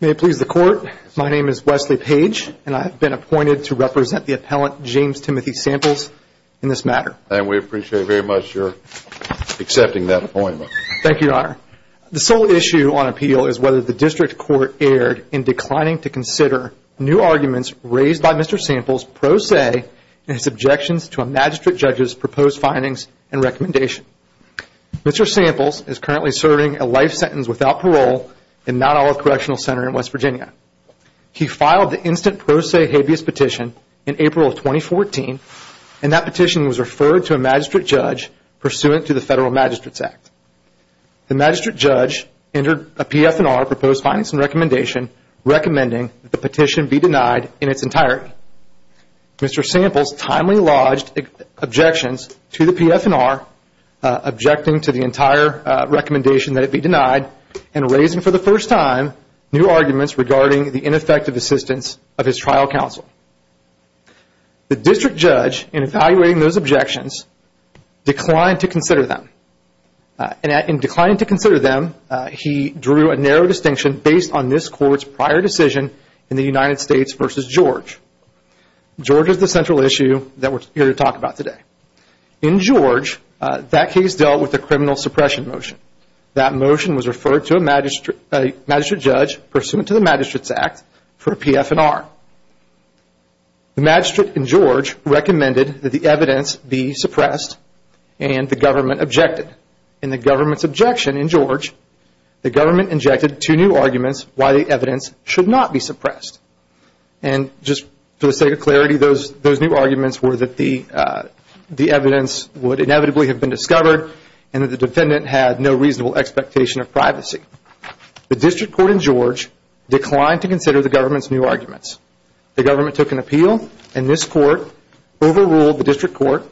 May it please the Court, my name is Wesley Page and I have been appointed to represent the appellant James Timothy Samples in this matter. And we appreciate very much your accepting that appointment. Thank you, Your Honor. The sole issue on appeal is whether the District Court erred in declining to consider new arguments raised by Mr. Samples pro se in his objections to a magistrate judge's proposed findings and recommendation. Mr. Samples is currently serving a life sentence without parole in Mt. Olive Correctional Center in West Virginia. He filed the instant pro se habeas petition in April of 2014 and that petition was referred to a magistrate judge pursuant to the Federal Magistrates Act. The magistrate judge entered a PF&R proposed findings and recommendation recommending the petition be denied in its entirety. Mr. Samples timely lodged objections to the PF&R objecting to the entire recommendation that it be denied and raising for the first time new arguments regarding the ineffective assistance of his trial counsel. The district judge in evaluating those objections declined to consider them. In declining to consider them, he drew a narrow distinction based on this court's prior decision in the United States versus George. George is the central issue that we're here to talk about today. In George, that case dealt with a criminal suppression motion. That motion was referred to a magistrate judge pursuant to the Magistrates Act for a PF&R. The magistrate in George recommended that the evidence be suppressed and the government objected. In the government's objection in George, the government injected two new arguments why the evidence should not be suppressed. And just for the sake of clarity, those new arguments were that the evidence would inevitably have been discovered and that the defendant had no reasonable expectation of privacy. The district court in George declined to consider the government's new arguments. The government took an appeal, and this court overruled the district court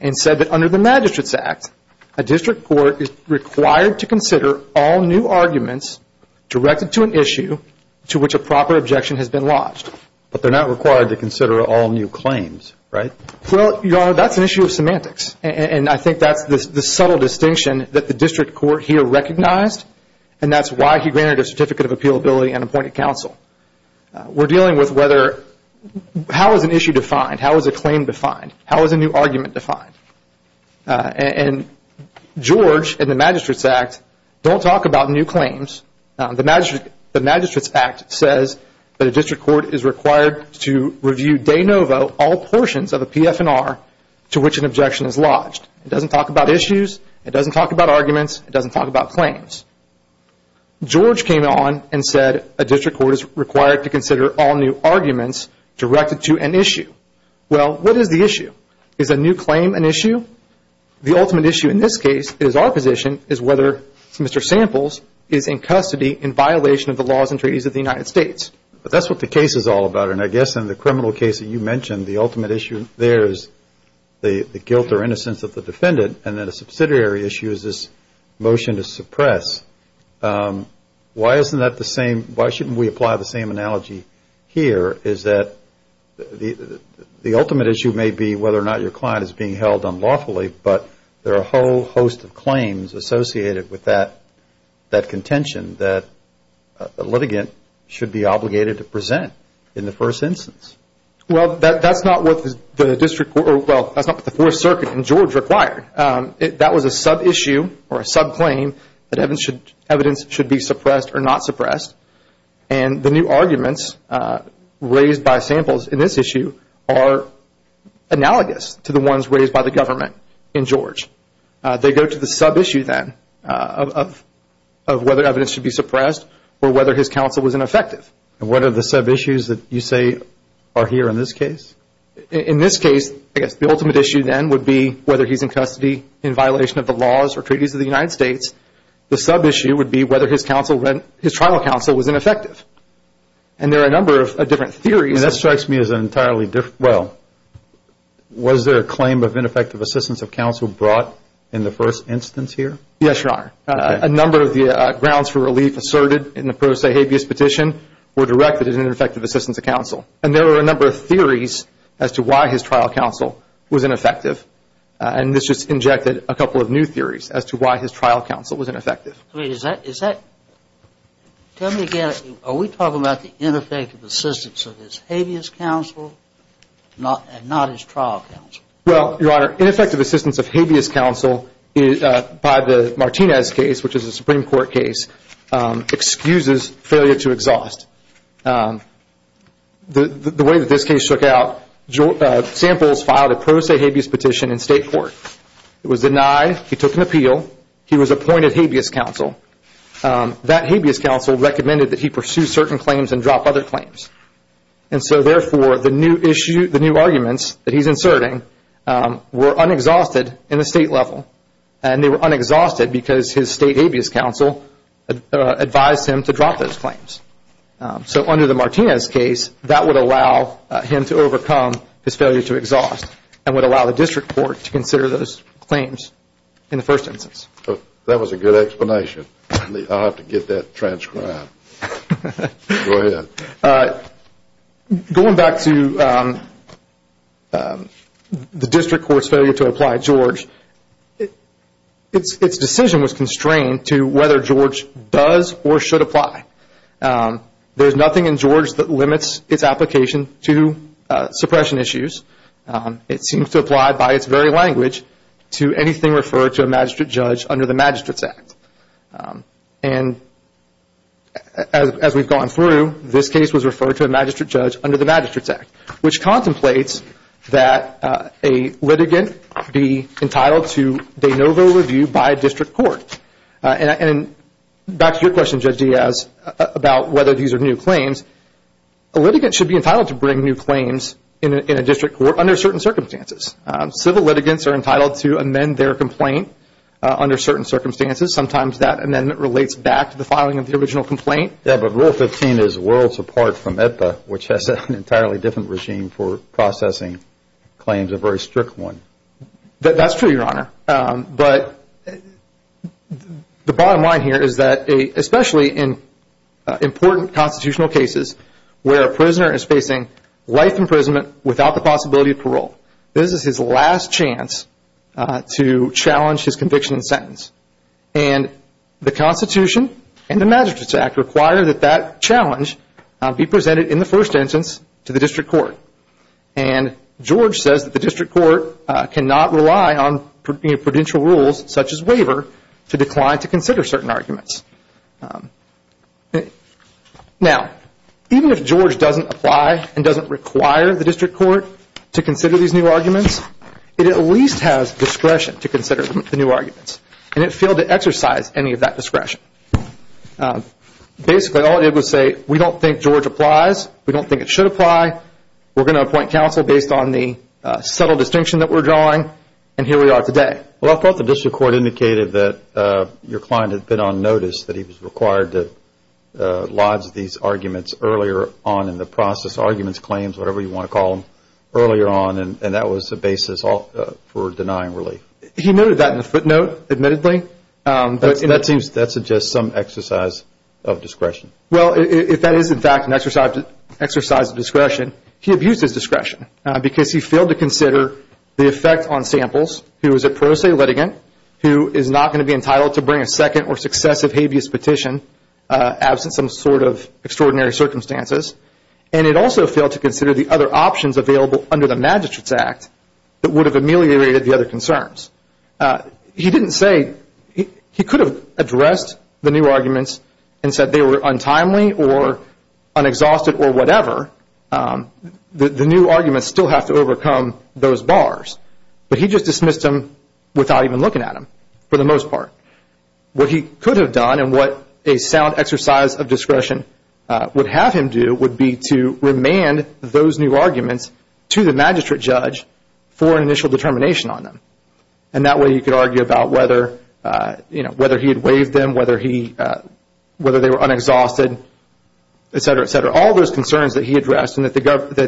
and said that under the Magistrates Act, a district court is required to consider all new arguments directed to an issue to which a proper objection has been lodged. But they're not required to consider all new claims, right? Well, Your Honor, that's an issue of semantics. And I think that's the subtle distinction that the district court here recognized, and that's why he granted a certificate of appealability and appointed counsel. We're dealing with how is an issue defined? How is a claim defined? How is a new argument defined? And George and the Magistrates Act don't talk about new claims. The Magistrates Act says that a district court is required to review de novo all portions of a PF&R to which an objection is lodged. It doesn't talk about issues. It doesn't talk about arguments. It doesn't talk about claims. George came on and said a district court is required to consider all new arguments directed to an issue. Well, what is the issue? Is a new claim an issue? The ultimate issue in this case is our position is whether Mr. Samples is in custody in violation of the laws and treaties of the United States. But that's what the case is all about. And I guess in the criminal case that you mentioned, the ultimate issue there is the guilt or innocence of the defendant, and then a subsidiary issue is this motion to suppress. Why isn't that the same? Why shouldn't we apply the same analogy here is that the ultimate issue may be whether or not your client is being held unlawfully, but there are a whole host of claims associated with that contention that a litigant should be obligated to present in the first instance. Well, that's not what the district court or, well, that's not what the Fourth Circuit and George required. That was a sub-issue or a sub-claim that evidence should be suppressed or not suppressed. And the new arguments raised by Samples in this issue are analogous to the ones raised by the government in George. They go to the sub-issue then of whether evidence should be suppressed or whether his counsel was ineffective. And what are the sub-issues that you say are here in this case? In this case, I guess the ultimate issue then would be whether he's in custody in violation of the laws or treaties of the United States. The sub-issue would be whether his trial counsel was ineffective. And there are a number of different theories. And that strikes me as an entirely different, well, was there a claim of ineffective assistance of counsel brought in the first instance here? Yes, Your Honor. A number of the grounds for relief asserted in the pro se habeas petition were directed as ineffective assistance of counsel. And there were a number of theories as to why his trial counsel was ineffective. And this just injected a couple of new theories as to why his trial counsel was ineffective. Tell me again, are we talking about the ineffective assistance of his habeas counsel and not his trial counsel? Well, Your Honor, ineffective assistance of habeas counsel by the Martinez case, which is a Supreme Court case, excuses failure to exhaust. The way that this case took out, Samples filed a pro se habeas petition in state court. It was denied. He took an appeal. He was appointed habeas counsel. That habeas counsel recommended that he pursue certain claims and drop other claims. And so, therefore, the new arguments that he's inserting were unexhausted in the state level. And they were unexhausted because his state habeas counsel advised him to drop those claims. So under the Martinez case, that would allow him to overcome his failure to exhaust and would allow the district court to consider those claims in the first instance. That was a good explanation. I'll have to get that transcribed. Go ahead. Going back to the district court's failure to apply George, its decision was constrained to whether George does or should apply. There's nothing in George that limits its application to suppression issues. It seems to apply by its very language to anything referred to a magistrate judge under the Magistrates Act. And as we've gone through, this case was referred to a magistrate judge under the Magistrates Act, which contemplates that a litigant be entitled to de novo review by district court. And back to your question, Judge Diaz, about whether these are new claims, a litigant should be entitled to bring new claims in a district court under certain circumstances. Civil litigants are entitled to amend their complaint under certain circumstances. Sometimes that amendment relates back to the filing of the original complaint. Yeah, but Rule 15 is worlds apart from EPA, which has an entirely different regime for processing claims, a very strict one. That's true, Your Honor. But the bottom line here is that, especially in important constitutional cases where a prisoner is facing life imprisonment without the possibility of parole, this is his last chance to challenge his conviction and sentence. And the Constitution and the Magistrates Act require that that challenge be presented in the first instance to the district court. And George says that the district court cannot rely on prudential rules, such as waiver, to decline to consider certain arguments. Now, even if George doesn't apply and doesn't require the district court to consider these new arguments, it at least has discretion to consider the new arguments, and it failed to exercise any of that discretion. Basically, all it did was say, we don't think George applies, we don't think it should apply, we're going to appoint counsel based on the subtle distinction that we're drawing, and here we are today. Well, I thought the district court indicated that your client had been on notice that he was required to lodge these arguments earlier on in the process, arguments, claims, whatever you want to call them, earlier on, and that was the basis for denying relief. He noted that in the footnote, admittedly. That suggests some exercise of discretion. Well, if that is, in fact, an exercise of discretion, he abused his discretion because he failed to consider the effect on samples, who is a pro se litigant, who is not going to be entitled to bring a second or successive habeas petition, absent some sort of extraordinary circumstances, and it also failed to consider the other options available under the Magistrates Act that would have ameliorated the other concerns. He didn't say, he could have addressed the new arguments and said they were untimely or unexhausted or whatever. The new arguments still have to overcome those bars, but he just dismissed them without even looking at them, for the most part. What he could have done and what a sound exercise of discretion would have him do would be to remand those new arguments to the magistrate judge for an initial determination on them, and that way he could argue about whether he had waived them, whether they were unexhausted, et cetera, et cetera. The concerns that he addressed and that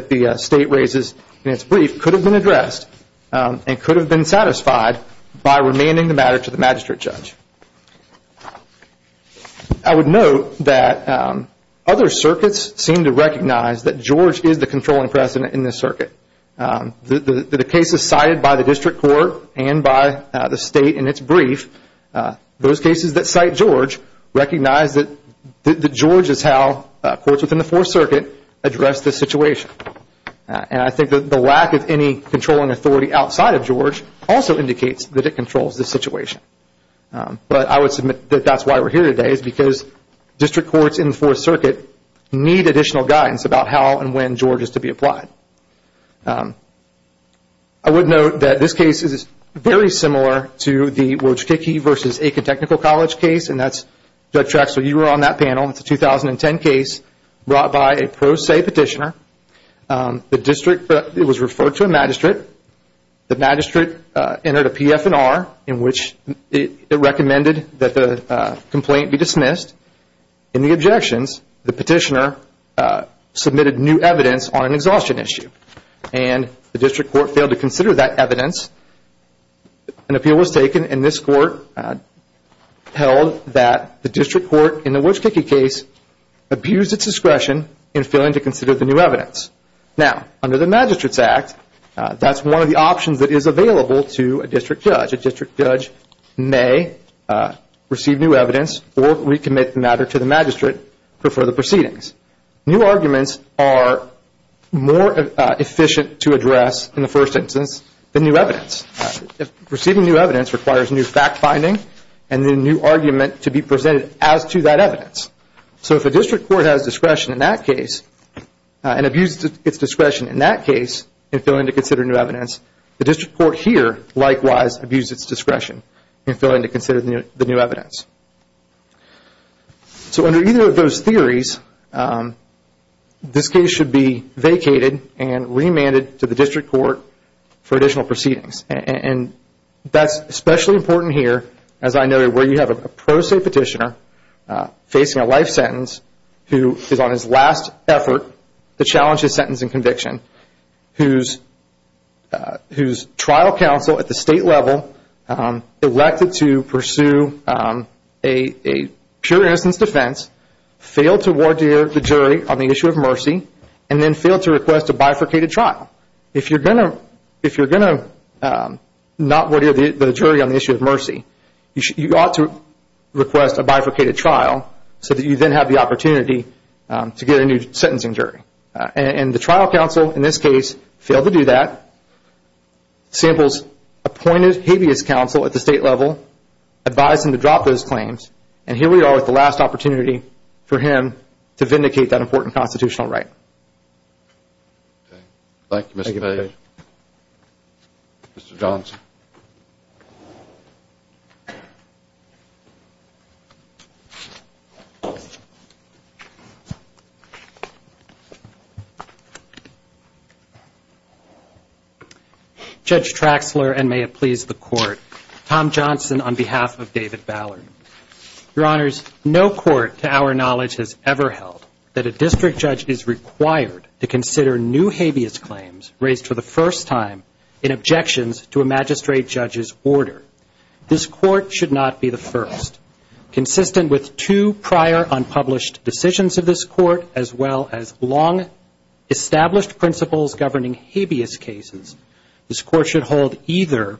the state raises in its brief could have been addressed and could have been satisfied by remanding the matter to the magistrate judge. I would note that other circuits seem to recognize that George is the controlling precedent in this circuit. The cases cited by the district court and by the state in its brief, those cases that cite George, recognize that George is how courts within the Fourth Circuit address this situation. And I think that the lack of any controlling authority outside of George also indicates that it controls this situation. But I would submit that that's why we're here today is because district courts in the Fourth Circuit need additional guidance about how and when George is to be applied. I would note that this case is very similar to the Wojticki v. Aiken Technical College case, and that's Judge Traxler, you were on that panel. It's a 2010 case brought by a pro se petitioner. The district was referred to a magistrate. The magistrate entered a PF&R in which it recommended that the complaint be dismissed. In the objections, the petitioner submitted new evidence on an exhaustion issue, and the district court failed to consider that evidence. An appeal was taken, and this court held that the district court in the Wojticki case abused its discretion in failing to consider the new evidence. Now, under the Magistrates Act, that's one of the options that is available to a district judge. A district judge may receive new evidence or recommit the matter to the magistrate for further proceedings. New arguments are more efficient to address in the first instance than new evidence. Receiving new evidence requires new fact-finding and a new argument to be presented as to that evidence. So if a district court has discretion in that case and abused its discretion in that case in failing to consider new evidence, the district court here likewise abused its discretion in failing to consider the new evidence. So under either of those theories, this case should be vacated and remanded to the district court for additional proceedings. That's especially important here, as I noted, where you have a pro se petitioner facing a life sentence who is on his last effort to challenge his sentence and conviction, whose trial counsel at the state level elected to pursue a pure innocence defense, failed to wardeer the jury on the issue of mercy, and then failed to request a bifurcated trial. If you're going to not wardeer the jury on the issue of mercy, you ought to request a bifurcated trial so that you then have the opportunity to get a new sentencing jury. And the trial counsel in this case failed to do that, samples appointed habeas counsel at the state level, advised him to drop those claims, and here we are with the last opportunity for him to vindicate that important constitutional right. Thank you, Mr. Page. Mr. Johnson. Judge Traxler, and may it please the Court, Tom Johnson on behalf of David Ballard. Your Honors, no court to our knowledge has ever held that a district judge is required to consider new habeas claims raised for the first time in objections to a magistrate judge's order. This Court should not be the first. Consistent with two prior unpublished decisions of this Court, as well as long established principles governing habeas cases, this Court should hold either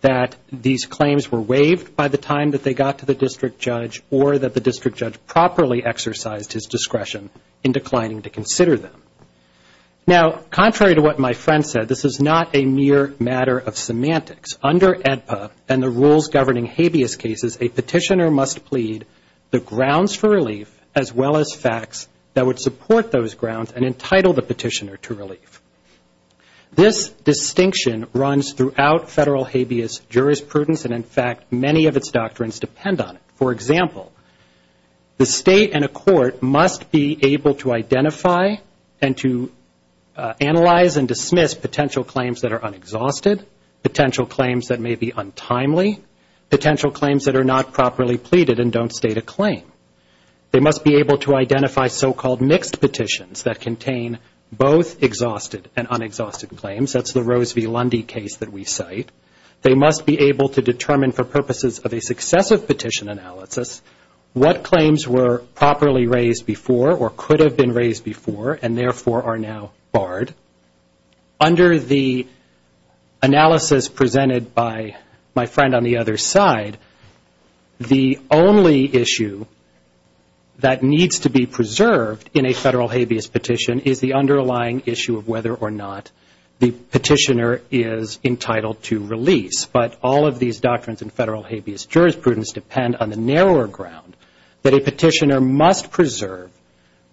that these claims were waived by the time that they got to the district judge, or that the district judge properly exercised his discretion in declining to consider them. Now, contrary to what my friend said, this is not a mere matter of semantics. Under AEDPA and the rules governing habeas cases, a petitioner must plead the grounds for relief, as well as facts that would support those grounds and entitle the petitioner to relief. This distinction runs throughout federal habeas jurisprudence, and in fact, many of its doctrines depend on it. For example, the State and a court must be able to identify and to analyze and dismiss potential claims that are unexhausted, potential claims that may be untimely, potential claims that are not properly pleaded and don't state a claim. They must be able to identify so-called mixed petitions that contain both exhausted and unexhausted claims. That's the Rose v. Lundy case that we cite. They must be able to determine for purposes of a successive petition analysis what claims were properly raised before or could have been raised before and therefore are now barred. Under the analysis presented by my friend on the other side, the only issue that needs to be preserved in a federal habeas petition is the underlying issue of whether or not the petitioner is entitled to release. But all of these doctrines in federal habeas jurisprudence depend on the narrower ground that a petitioner must preserve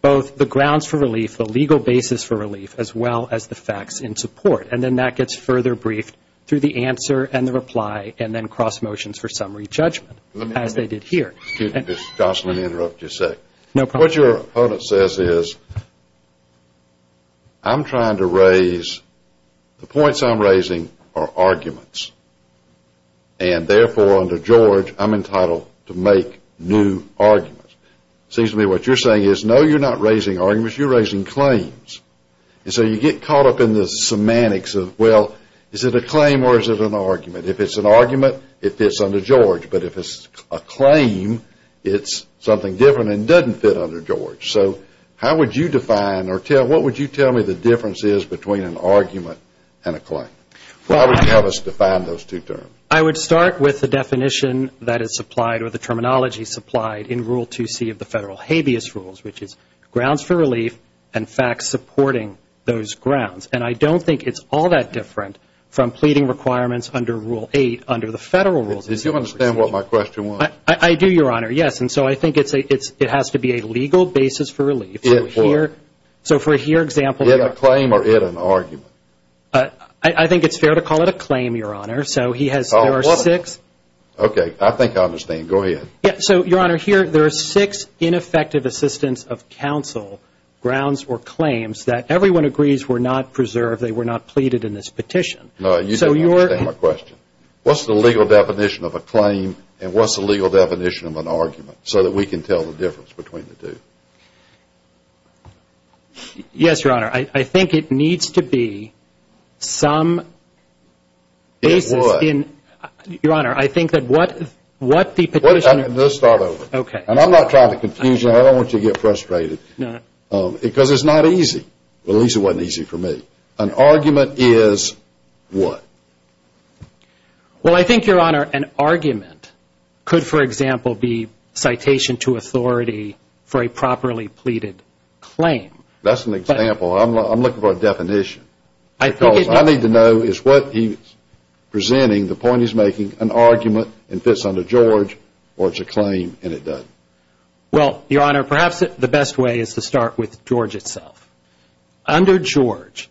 both the grounds for relief, the legal basis for relief, as well as the facts in support. And then that gets further briefed through the answer and the reply and then cross motions for summary judgment, as they did here. Excuse me, Mr. Johnson, let me interrupt you a second. I'm trying to raise, the points I'm raising are arguments. And therefore under George, I'm entitled to make new arguments. It seems to me what you're saying is, no, you're not raising arguments, you're raising claims. And so you get caught up in the semantics of, well, is it a claim or is it an argument? If it's an argument, it fits under George. But if it's a claim, it's something different and doesn't fit under George. So how would you define or what would you tell me the difference is between an argument and a claim? How would you have us define those two terms? I would start with the definition that is supplied or the terminology supplied in Rule 2C of the federal habeas rules, which is grounds for relief and facts supporting those grounds. And I don't think it's all that different from pleading requirements under Rule 8, under the federal rules. Do you understand what my question was? I do, Your Honor, yes. And so I think it has to be a legal basis for relief. In what? So for example, In a claim or in an argument? I think it's fair to call it a claim, Your Honor. So there are six. Okay, I think I understand. Go ahead. So, Your Honor, here there are six ineffective assistance of counsel grounds or claims that everyone agrees were not preserved, they were not pleaded in this petition. No, you don't understand my question. What's the legal definition of a claim and what's the legal definition of an argument so that we can tell the difference between the two? Yes, Your Honor, I think it needs to be some basis in In what? Your Honor, I think that what the petitioner Let's start over. Okay. And I'm not trying to confuse you. I don't want you to get frustrated. No. Because it's not easy. Well, at least it wasn't easy for me. An argument is what? Well, I think, Your Honor, an argument could, for example, be citation to authority for a properly pleaded claim. That's an example. I'm looking for a definition. Because I need to know is what he's presenting, the point he's making, an argument and fits under George or it's a claim and it doesn't? Well, Your Honor, perhaps the best way is to start with George itself. Under George,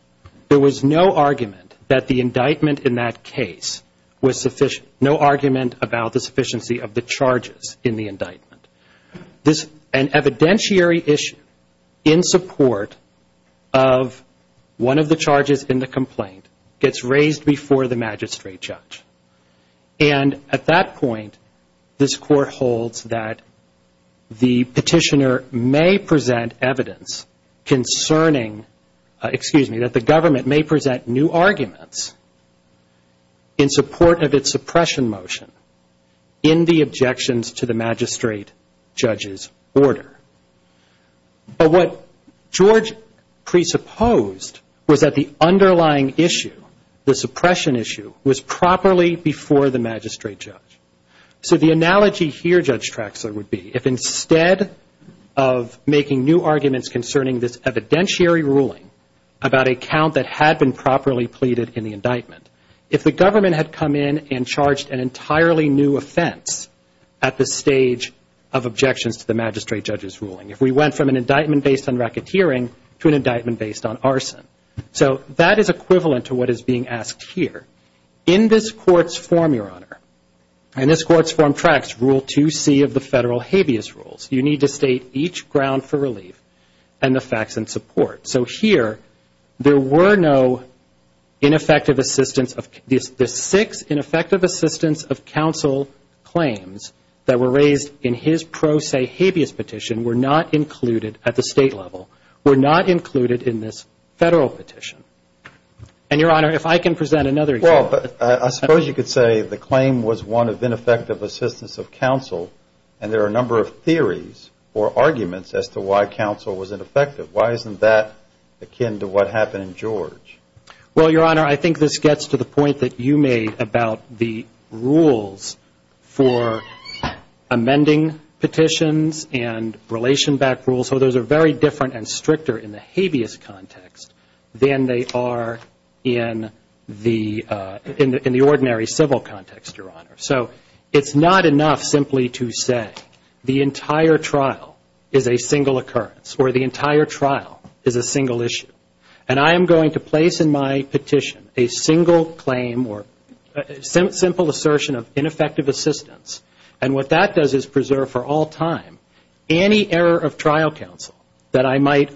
there was no argument that the indictment in that case was sufficient. No argument about the sufficiency of the charges in the indictment. An evidentiary issue in support of one of the charges in the complaint gets raised before the magistrate judge. And at that point, this Court holds that the petitioner may present evidence concerning, excuse me, that the government may present new arguments in support of its suppression motion in the objections to the magistrate judge's order. But what George presupposed was that the underlying issue, the suppression issue, was properly before the magistrate judge. So the analogy here, Judge Traxler, would be if instead of making new arguments concerning this evidentiary ruling about a count that had been properly pleaded in the indictment, if the government had come in and charged an entirely new offense at the stage of objections to the magistrate judge's ruling, if we went from an indictment based on racketeering to an indictment based on arson. So that is equivalent to what is being asked here. In this Court's form, Your Honor, in this Court's form, Trax, Rule 2C of the federal habeas rules, you need to state each ground for relief and the facts in support. So here, there were no ineffective assistance of the six ineffective assistance of counsel claims that were raised in his pro se habeas petition were not included at the state level, were not included in this federal petition. And, Your Honor, if I can present another example. Well, I suppose you could say the claim was one of ineffective assistance of counsel, and there are a number of theories or arguments as to why counsel was ineffective. Why isn't that akin to what happened in George? Well, Your Honor, I think this gets to the point that you made about the rules for amending petitions and relation-backed rules, so those are very different and stricter in the habeas context than they are in the ordinary civil context, Your Honor. So it's not enough simply to say the entire trial is a single occurrence or the entire trial is a single issue. And I am going to place in my petition a single claim or simple assertion of ineffective assistance, and what that does is preserve for all time any error of trial counsel that I might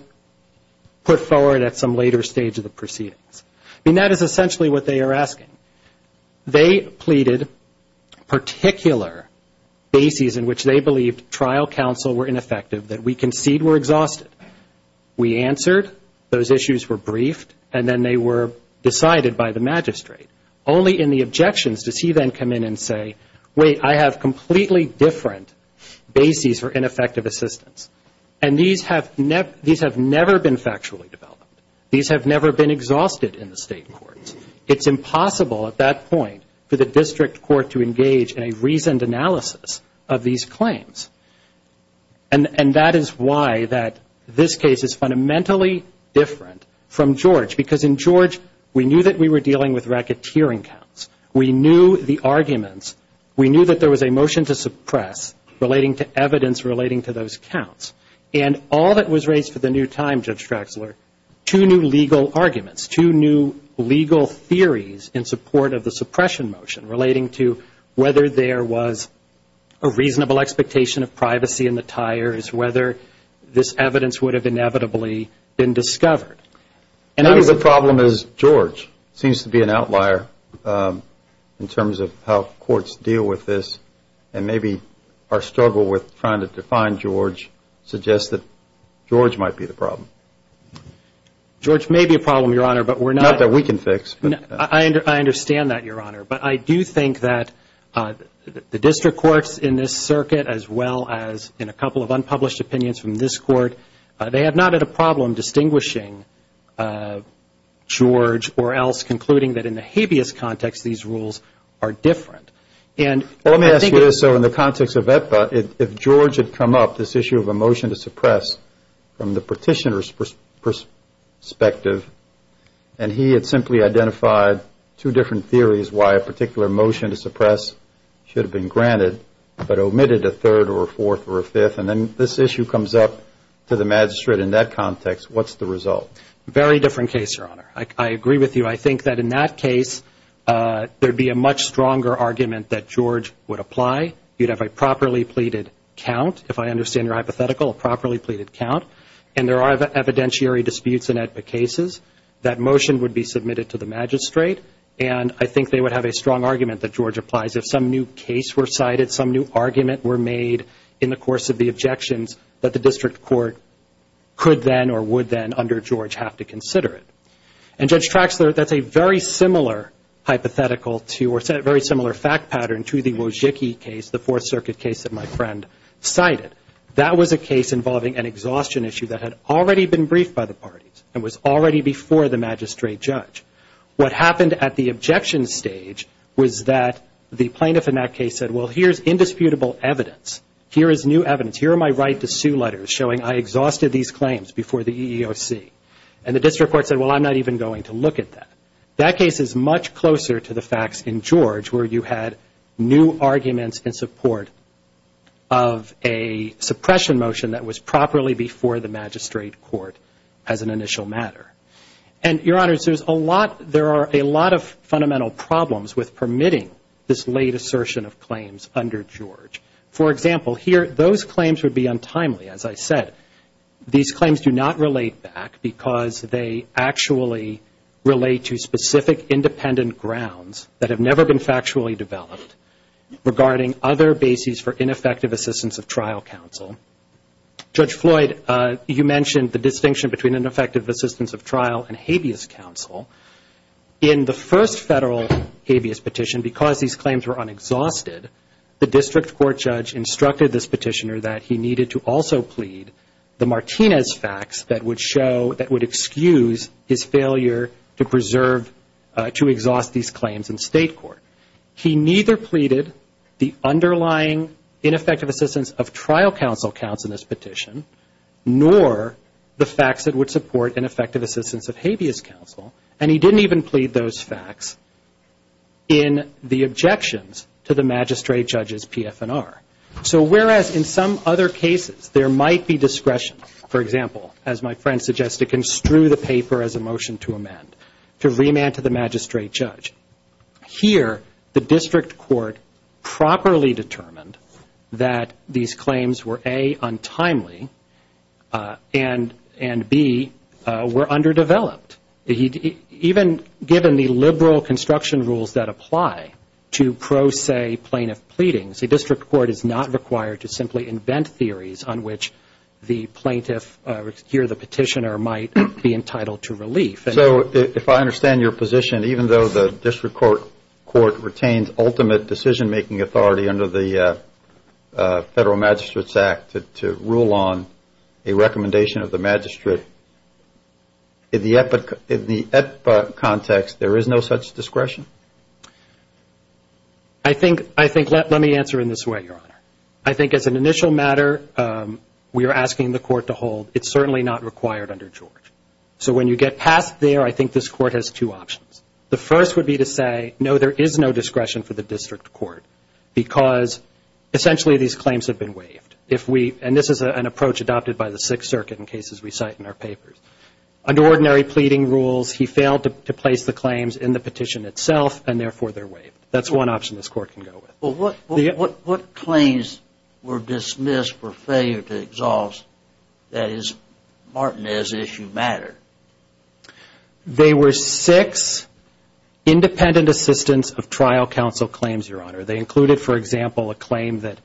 put forward at some later stage of the proceedings. I mean, that is essentially what they are asking. They pleaded particular bases in which they believed trial counsel were ineffective, that we concede were exhausted. We answered, those issues were briefed, and then they were decided by the magistrate. Only in the objections does he then come in and say, wait, I have completely different bases for ineffective assistance. And these have never been factually developed. These have never been exhausted in the state courts. It's impossible at that point for the district court to engage in a reasoned analysis of these claims. And that is why this case is fundamentally different from George, because in George we knew that we were dealing with racketeering counts. We knew the arguments. We knew that there was a motion to suppress relating to evidence relating to those counts. And all that was raised for the new time, Judge Traxler, two new legal arguments, two new legal theories in support of the suppression motion relating to whether there was a reasonable expectation of privacy in the tires, whether this evidence would have inevitably been discovered. Maybe the problem is George seems to be an outlier in terms of how courts deal with this, and maybe our struggle with trying to define George suggests that George might be the problem. George may be a problem, Your Honor, but we're not. Not that we can fix. I understand that, Your Honor. But I do think that the district courts in this circuit, as well as in a couple of unpublished opinions from this court, they have not had a problem distinguishing George or else concluding that in the habeas context these rules are different. Let me ask you this. So in the context of EPA, if George had come up, this issue of a motion to suppress, from the petitioner's perspective, and he had simply identified two different theories why a particular motion to suppress should have been granted, but omitted a third or a fourth or a fifth, and then this issue comes up to the magistrate in that context, what's the result? Very different case, Your Honor. I agree with you. I think that in that case there would be a much stronger argument that George would apply. You'd have a properly pleaded count, if I understand your hypothetical, a properly pleaded count, and there are evidentiary disputes in EPA cases. That motion would be submitted to the magistrate, and I think they would have a strong argument that George applies. If some new case were cited, some new argument were made in the course of the objections, that the district court could then or would then, under George, have to consider it. And Judge Traxler, that's a very similar hypothetical to or a very similar fact pattern to the Wozzecki case, the Fourth Circuit case that my friend cited. That was a case involving an exhaustion issue that had already been briefed by the parties and was already before the magistrate judge. What happened at the objection stage was that the plaintiff in that case said, well, here's indisputable evidence. Here is new evidence. Here are my right-to-sue letters showing I exhausted these claims before the EEOC. And the district court said, well, I'm not even going to look at that. That case is much closer to the facts in George where you had new arguments in support of a suppression motion that was properly before the magistrate court as an initial matter. And, Your Honors, there are a lot of fundamental problems with permitting this late assertion of claims under George. For example, here, those claims would be untimely, as I said. These claims do not relate back because they actually relate to specific independent grounds that have never been factually developed regarding other bases for ineffective assistance of trial counsel. Judge Floyd, you mentioned the distinction between ineffective assistance of trial and habeas counsel. In the first federal habeas petition, because these claims were unexhausted, the district court judge instructed this petitioner that he needed to also plead the Martinez facts that would show that would excuse his failure to preserve, to exhaust these claims in state court. He neither pleaded the underlying ineffective assistance of trial counsel counts in this petition, nor the facts that would support ineffective assistance of habeas counsel. And he didn't even plead those facts in the objections to the magistrate judge's PF&R. So whereas in some other cases there might be discretion, for example, as my friend suggested, construe the paper as a motion to amend, to remand to the magistrate judge. Here, the district court properly determined that these claims were, A, untimely, and, B, were underdeveloped. Even given the liberal construction rules that apply to pro se plaintiff pleadings, the district court is not required to simply invent theories on which the plaintiff, here the petitioner, might be entitled to relief. So if I understand your position, even though the district court retains ultimate decision-making authority under the Federal Magistrate's Act to rule on a recommendation of the magistrate, in the EPA context, there is no such discretion? I think, let me answer in this way, Your Honor. I think as an initial matter, we are asking the court to hold it's certainly not required under George. So when you get past there, I think this court has two options. The first would be to say, no, there is no discretion for the district court, because essentially these claims have been waived. And this is an approach adopted by the Sixth Circuit in cases we cite in our papers. Under ordinary pleading rules, he failed to place the claims in the petition itself, and therefore they're waived. That's one option this court can go with. Well, what claims were dismissed for failure to exhaust, that is, Martinez issue matter? They were six independent assistance of trial counsel claims, Your Honor. They included, for example, a claim that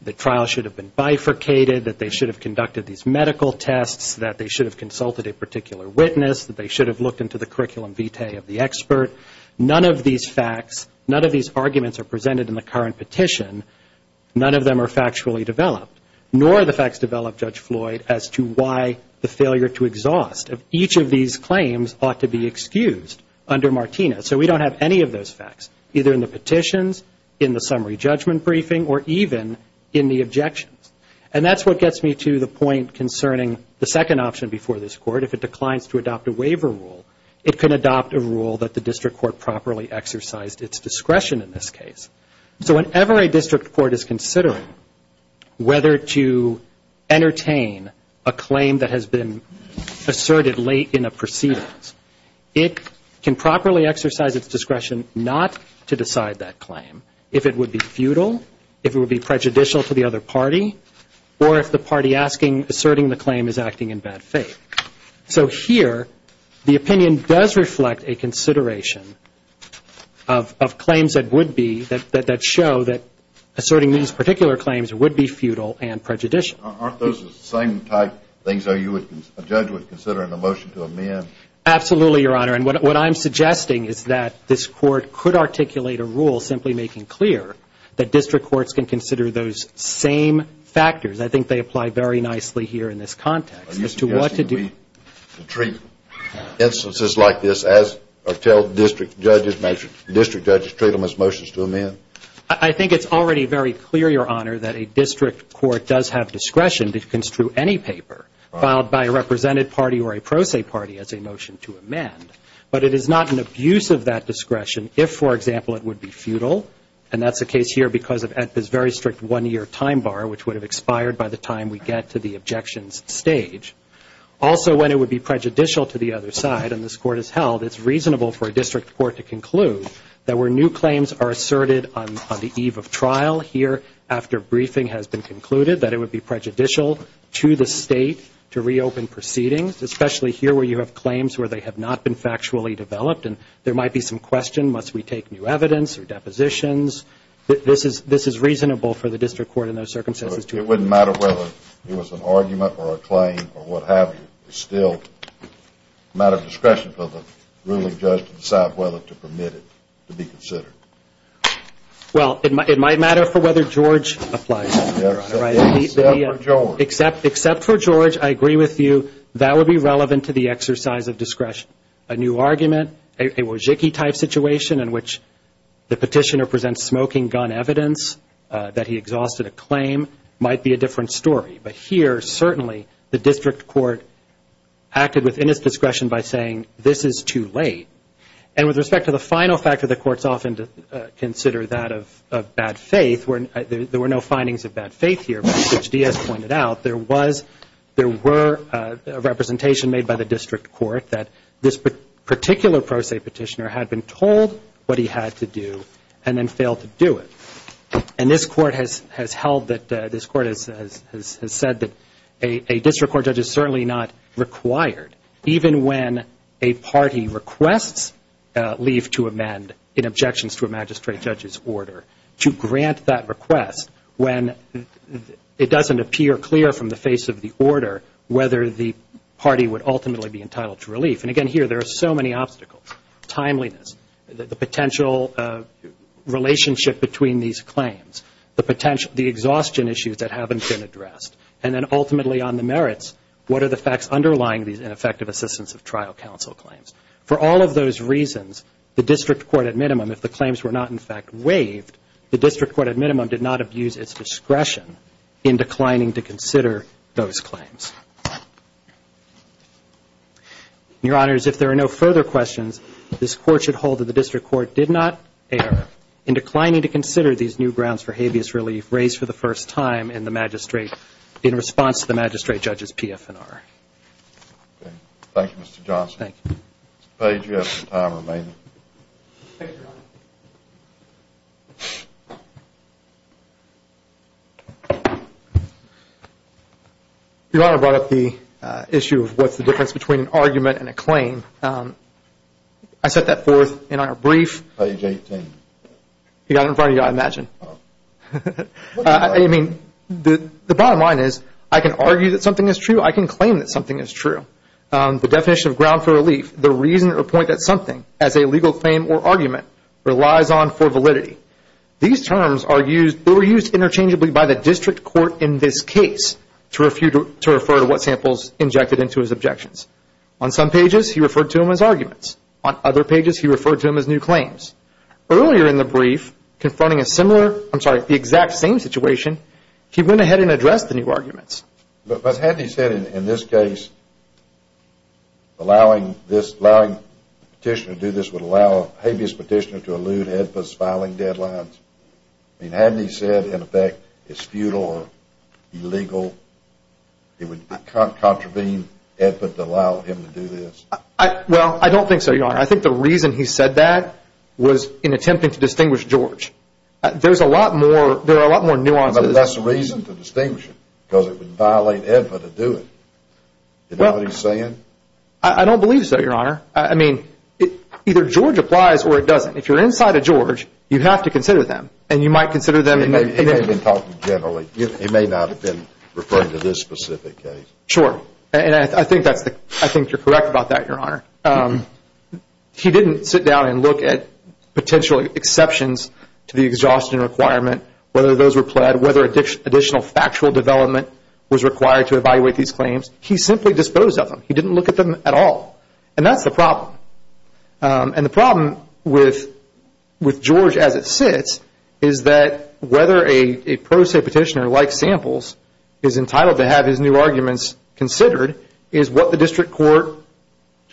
the trial should have been bifurcated, that they should have conducted these medical tests, that they should have consulted a particular witness, that they should have looked into the curriculum vitae of the expert. None of these facts, none of these arguments are presented in the current petition. None of them are factually developed, nor are the facts developed, Judge Floyd, as to why the failure to exhaust of each of these claims ought to be excused under Martinez. So we don't have any of those facts, either in the petitions, in the summary judgment briefing, or even in the objections. And that's what gets me to the point concerning the second option before this court. If it declines to adopt a waiver rule, it can adopt a rule that the district court properly exercised its discretion in this case. So whenever a district court is considering whether to entertain a claim that has been asserted late in a proceedings, it can properly exercise its discretion not to decide that claim, if it would be futile, if it would be prejudicial to the other party, or if the party asking, asserting the claim is acting in bad faith. So here, the opinion does reflect a consideration of claims that would be, that show that asserting these particular claims would be futile and prejudicial. Aren't those the same type of things a judge would consider in a motion to amend? Absolutely, Your Honor. And what I'm suggesting is that this court could articulate a rule simply making clear that district courts can consider those same factors. I think they apply very nicely here in this context as to what to do. Are you suggesting we treat instances like this as, or tell district judges, district judges, treat them as motions to amend? I think it's already very clear, Your Honor, that a district court does have discretion to construe any paper filed by a represented party or a pro se party as a motion to amend. But it is not an abuse of that discretion if, for example, it would be futile. And that's the case here because of this very strict one-year time bar, which would have expired by the time we get to the objections stage. Also, when it would be prejudicial to the other side, and this court has held, it's reasonable for a district court to conclude that where new claims are asserted on the eve of trial here after briefing has been concluded, that it would be prejudicial to the State to reopen proceedings, especially here where you have claims where they have not been factually developed. And there might be some question, must we take new evidence or depositions? This is reasonable for the district court in those circumstances. It wouldn't matter whether it was an argument or a claim or what have you. It's still a matter of discretion for the ruling judge to decide whether to permit it to be considered. Well, it might matter for whether George applies. Except for George, I agree with you, that would be relevant to the exercise of discretion. A new argument, a Wojcicki-type situation in which the petitioner presents smoking gun evidence that he exhausted a claim, might be a different story. But here, certainly, the district court acted within its discretion by saying, this is too late. And with respect to the final factor, the courts often consider that of bad faith, where there were no findings of bad faith here, but as Judge Diaz pointed out, there were representation made by the district court that this particular pro se petitioner had been told what he had to do and then failed to do it. And this court has held that, this court has said that a district court judge is certainly not required, even when a party requests leave to amend in objections to a magistrate judge's order, to grant that request when it doesn't appear clear from the face of the order whether the party would ultimately be entitled to relief. And again, here, there are so many obstacles. Timeliness, the potential relationship between these claims, the exhaustion issues that haven't been addressed. And then, ultimately, on the merits, what are the facts underlying these ineffective assistance of trial counsel claims. For all of those reasons, the district court, at minimum, if the claims were not, in fact, waived, the district court, at minimum, did not abuse its discretion in declining to consider those claims. Your Honors, if there are no further questions, this court should hold that the district court did not err in declining to consider these new grounds for habeas relief raised for the first time in the magistrate, in response to the magistrate judge's PFNR. Thank you, Mr. Johnson. Mr. Page, you have some time remaining. Thank you, Your Honor. Your Honor brought up the issue of what's the difference between an argument and a claim. I set that forth in our brief. Page 18. You got it in front of you, I imagine. I mean, the bottom line is, I can argue that something is true, I can claim that something is true. The definition of ground for relief, the reason or point that something, as a legal claim or argument, relies on for validity. These terms are used, they were used interchangeably by the district court in this case to refer to what samples injected into his objections. On some pages, he referred to them as arguments. On other pages, he referred to them as new claims. Earlier in the brief, confronting a similar, I'm sorry, the exact same situation, he went ahead and addressed the new arguments. But hadn't he said in this case, allowing this petitioner to do this would allow a habeas petitioner to elude Edput's filing deadlines? I mean, hadn't he said, in effect, it's futile or illegal, it would contravene Edput to allow him to do this? Well, I don't think so, Your Honor. I think the reason he said that was in attempting to distinguish George. There's a lot more, there are a lot more nuances. But that's the reason to distinguish him. Because it would violate Edput to do it. You know what he's saying? I don't believe so, Your Honor. I mean, either George applies or it doesn't. If you're inside of George, you have to consider them. And you might consider them. He may not have been referring to this specific case. Sure. And I think you're correct about that, Your Honor. He didn't sit down and look at potential exceptions to the exhaustion requirement, whether those were pled, whether additional factual development was required to evaluate these claims. He simply disposed of them. He didn't look at them at all. And that's the problem. And the problem with George as it sits is that whether a pro se petitioner like Samples is entitled to have his new arguments considered is what the district court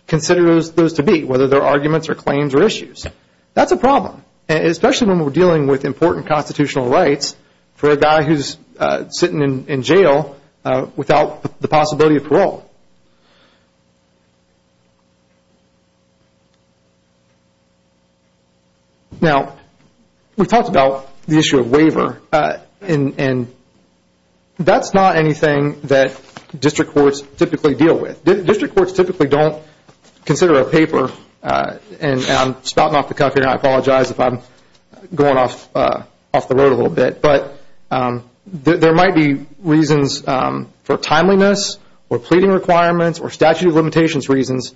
considers those to be, whether they're arguments or claims or issues. That's a problem. Especially when we're dealing with important constitutional rights for a guy who's sitting in jail without the possibility of parole. Now, we talked about the issue of waiver. That's not anything that district courts typically deal with. District courts typically don't consider a paper, and I'm spouting off the cuff here and I apologize if I'm going off the road a little bit, but there might be reasons for timeliness or pleading requirements or statute of limitations reasons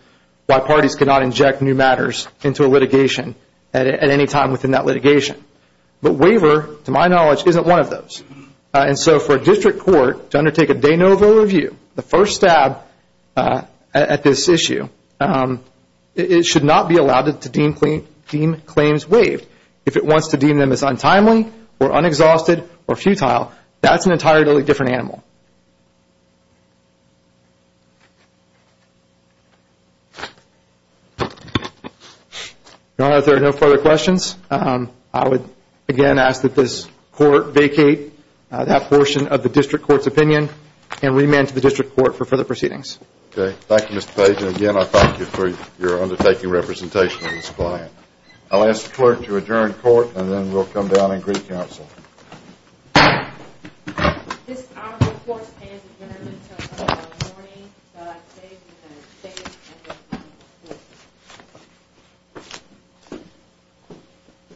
why parties cannot inject new matters into a litigation at any time within that litigation. But waiver, to my knowledge, isn't one of those. And so for a district court to undertake a de novo review, the first stab at this issue, it should not be allowed to deem claims waived. If it wants to deem them as untimely or unexhausted or futile, that's an entirely different animal. If there are no further questions, I would again ask that this court vacate that portion of the district court's opinion and remand to the district court for further proceedings. Thank you, Mr. Page. And again, I thank you for your undertaking representation of this client. I'll ask the clerk to adjourn court and then we'll come down and agree counsel.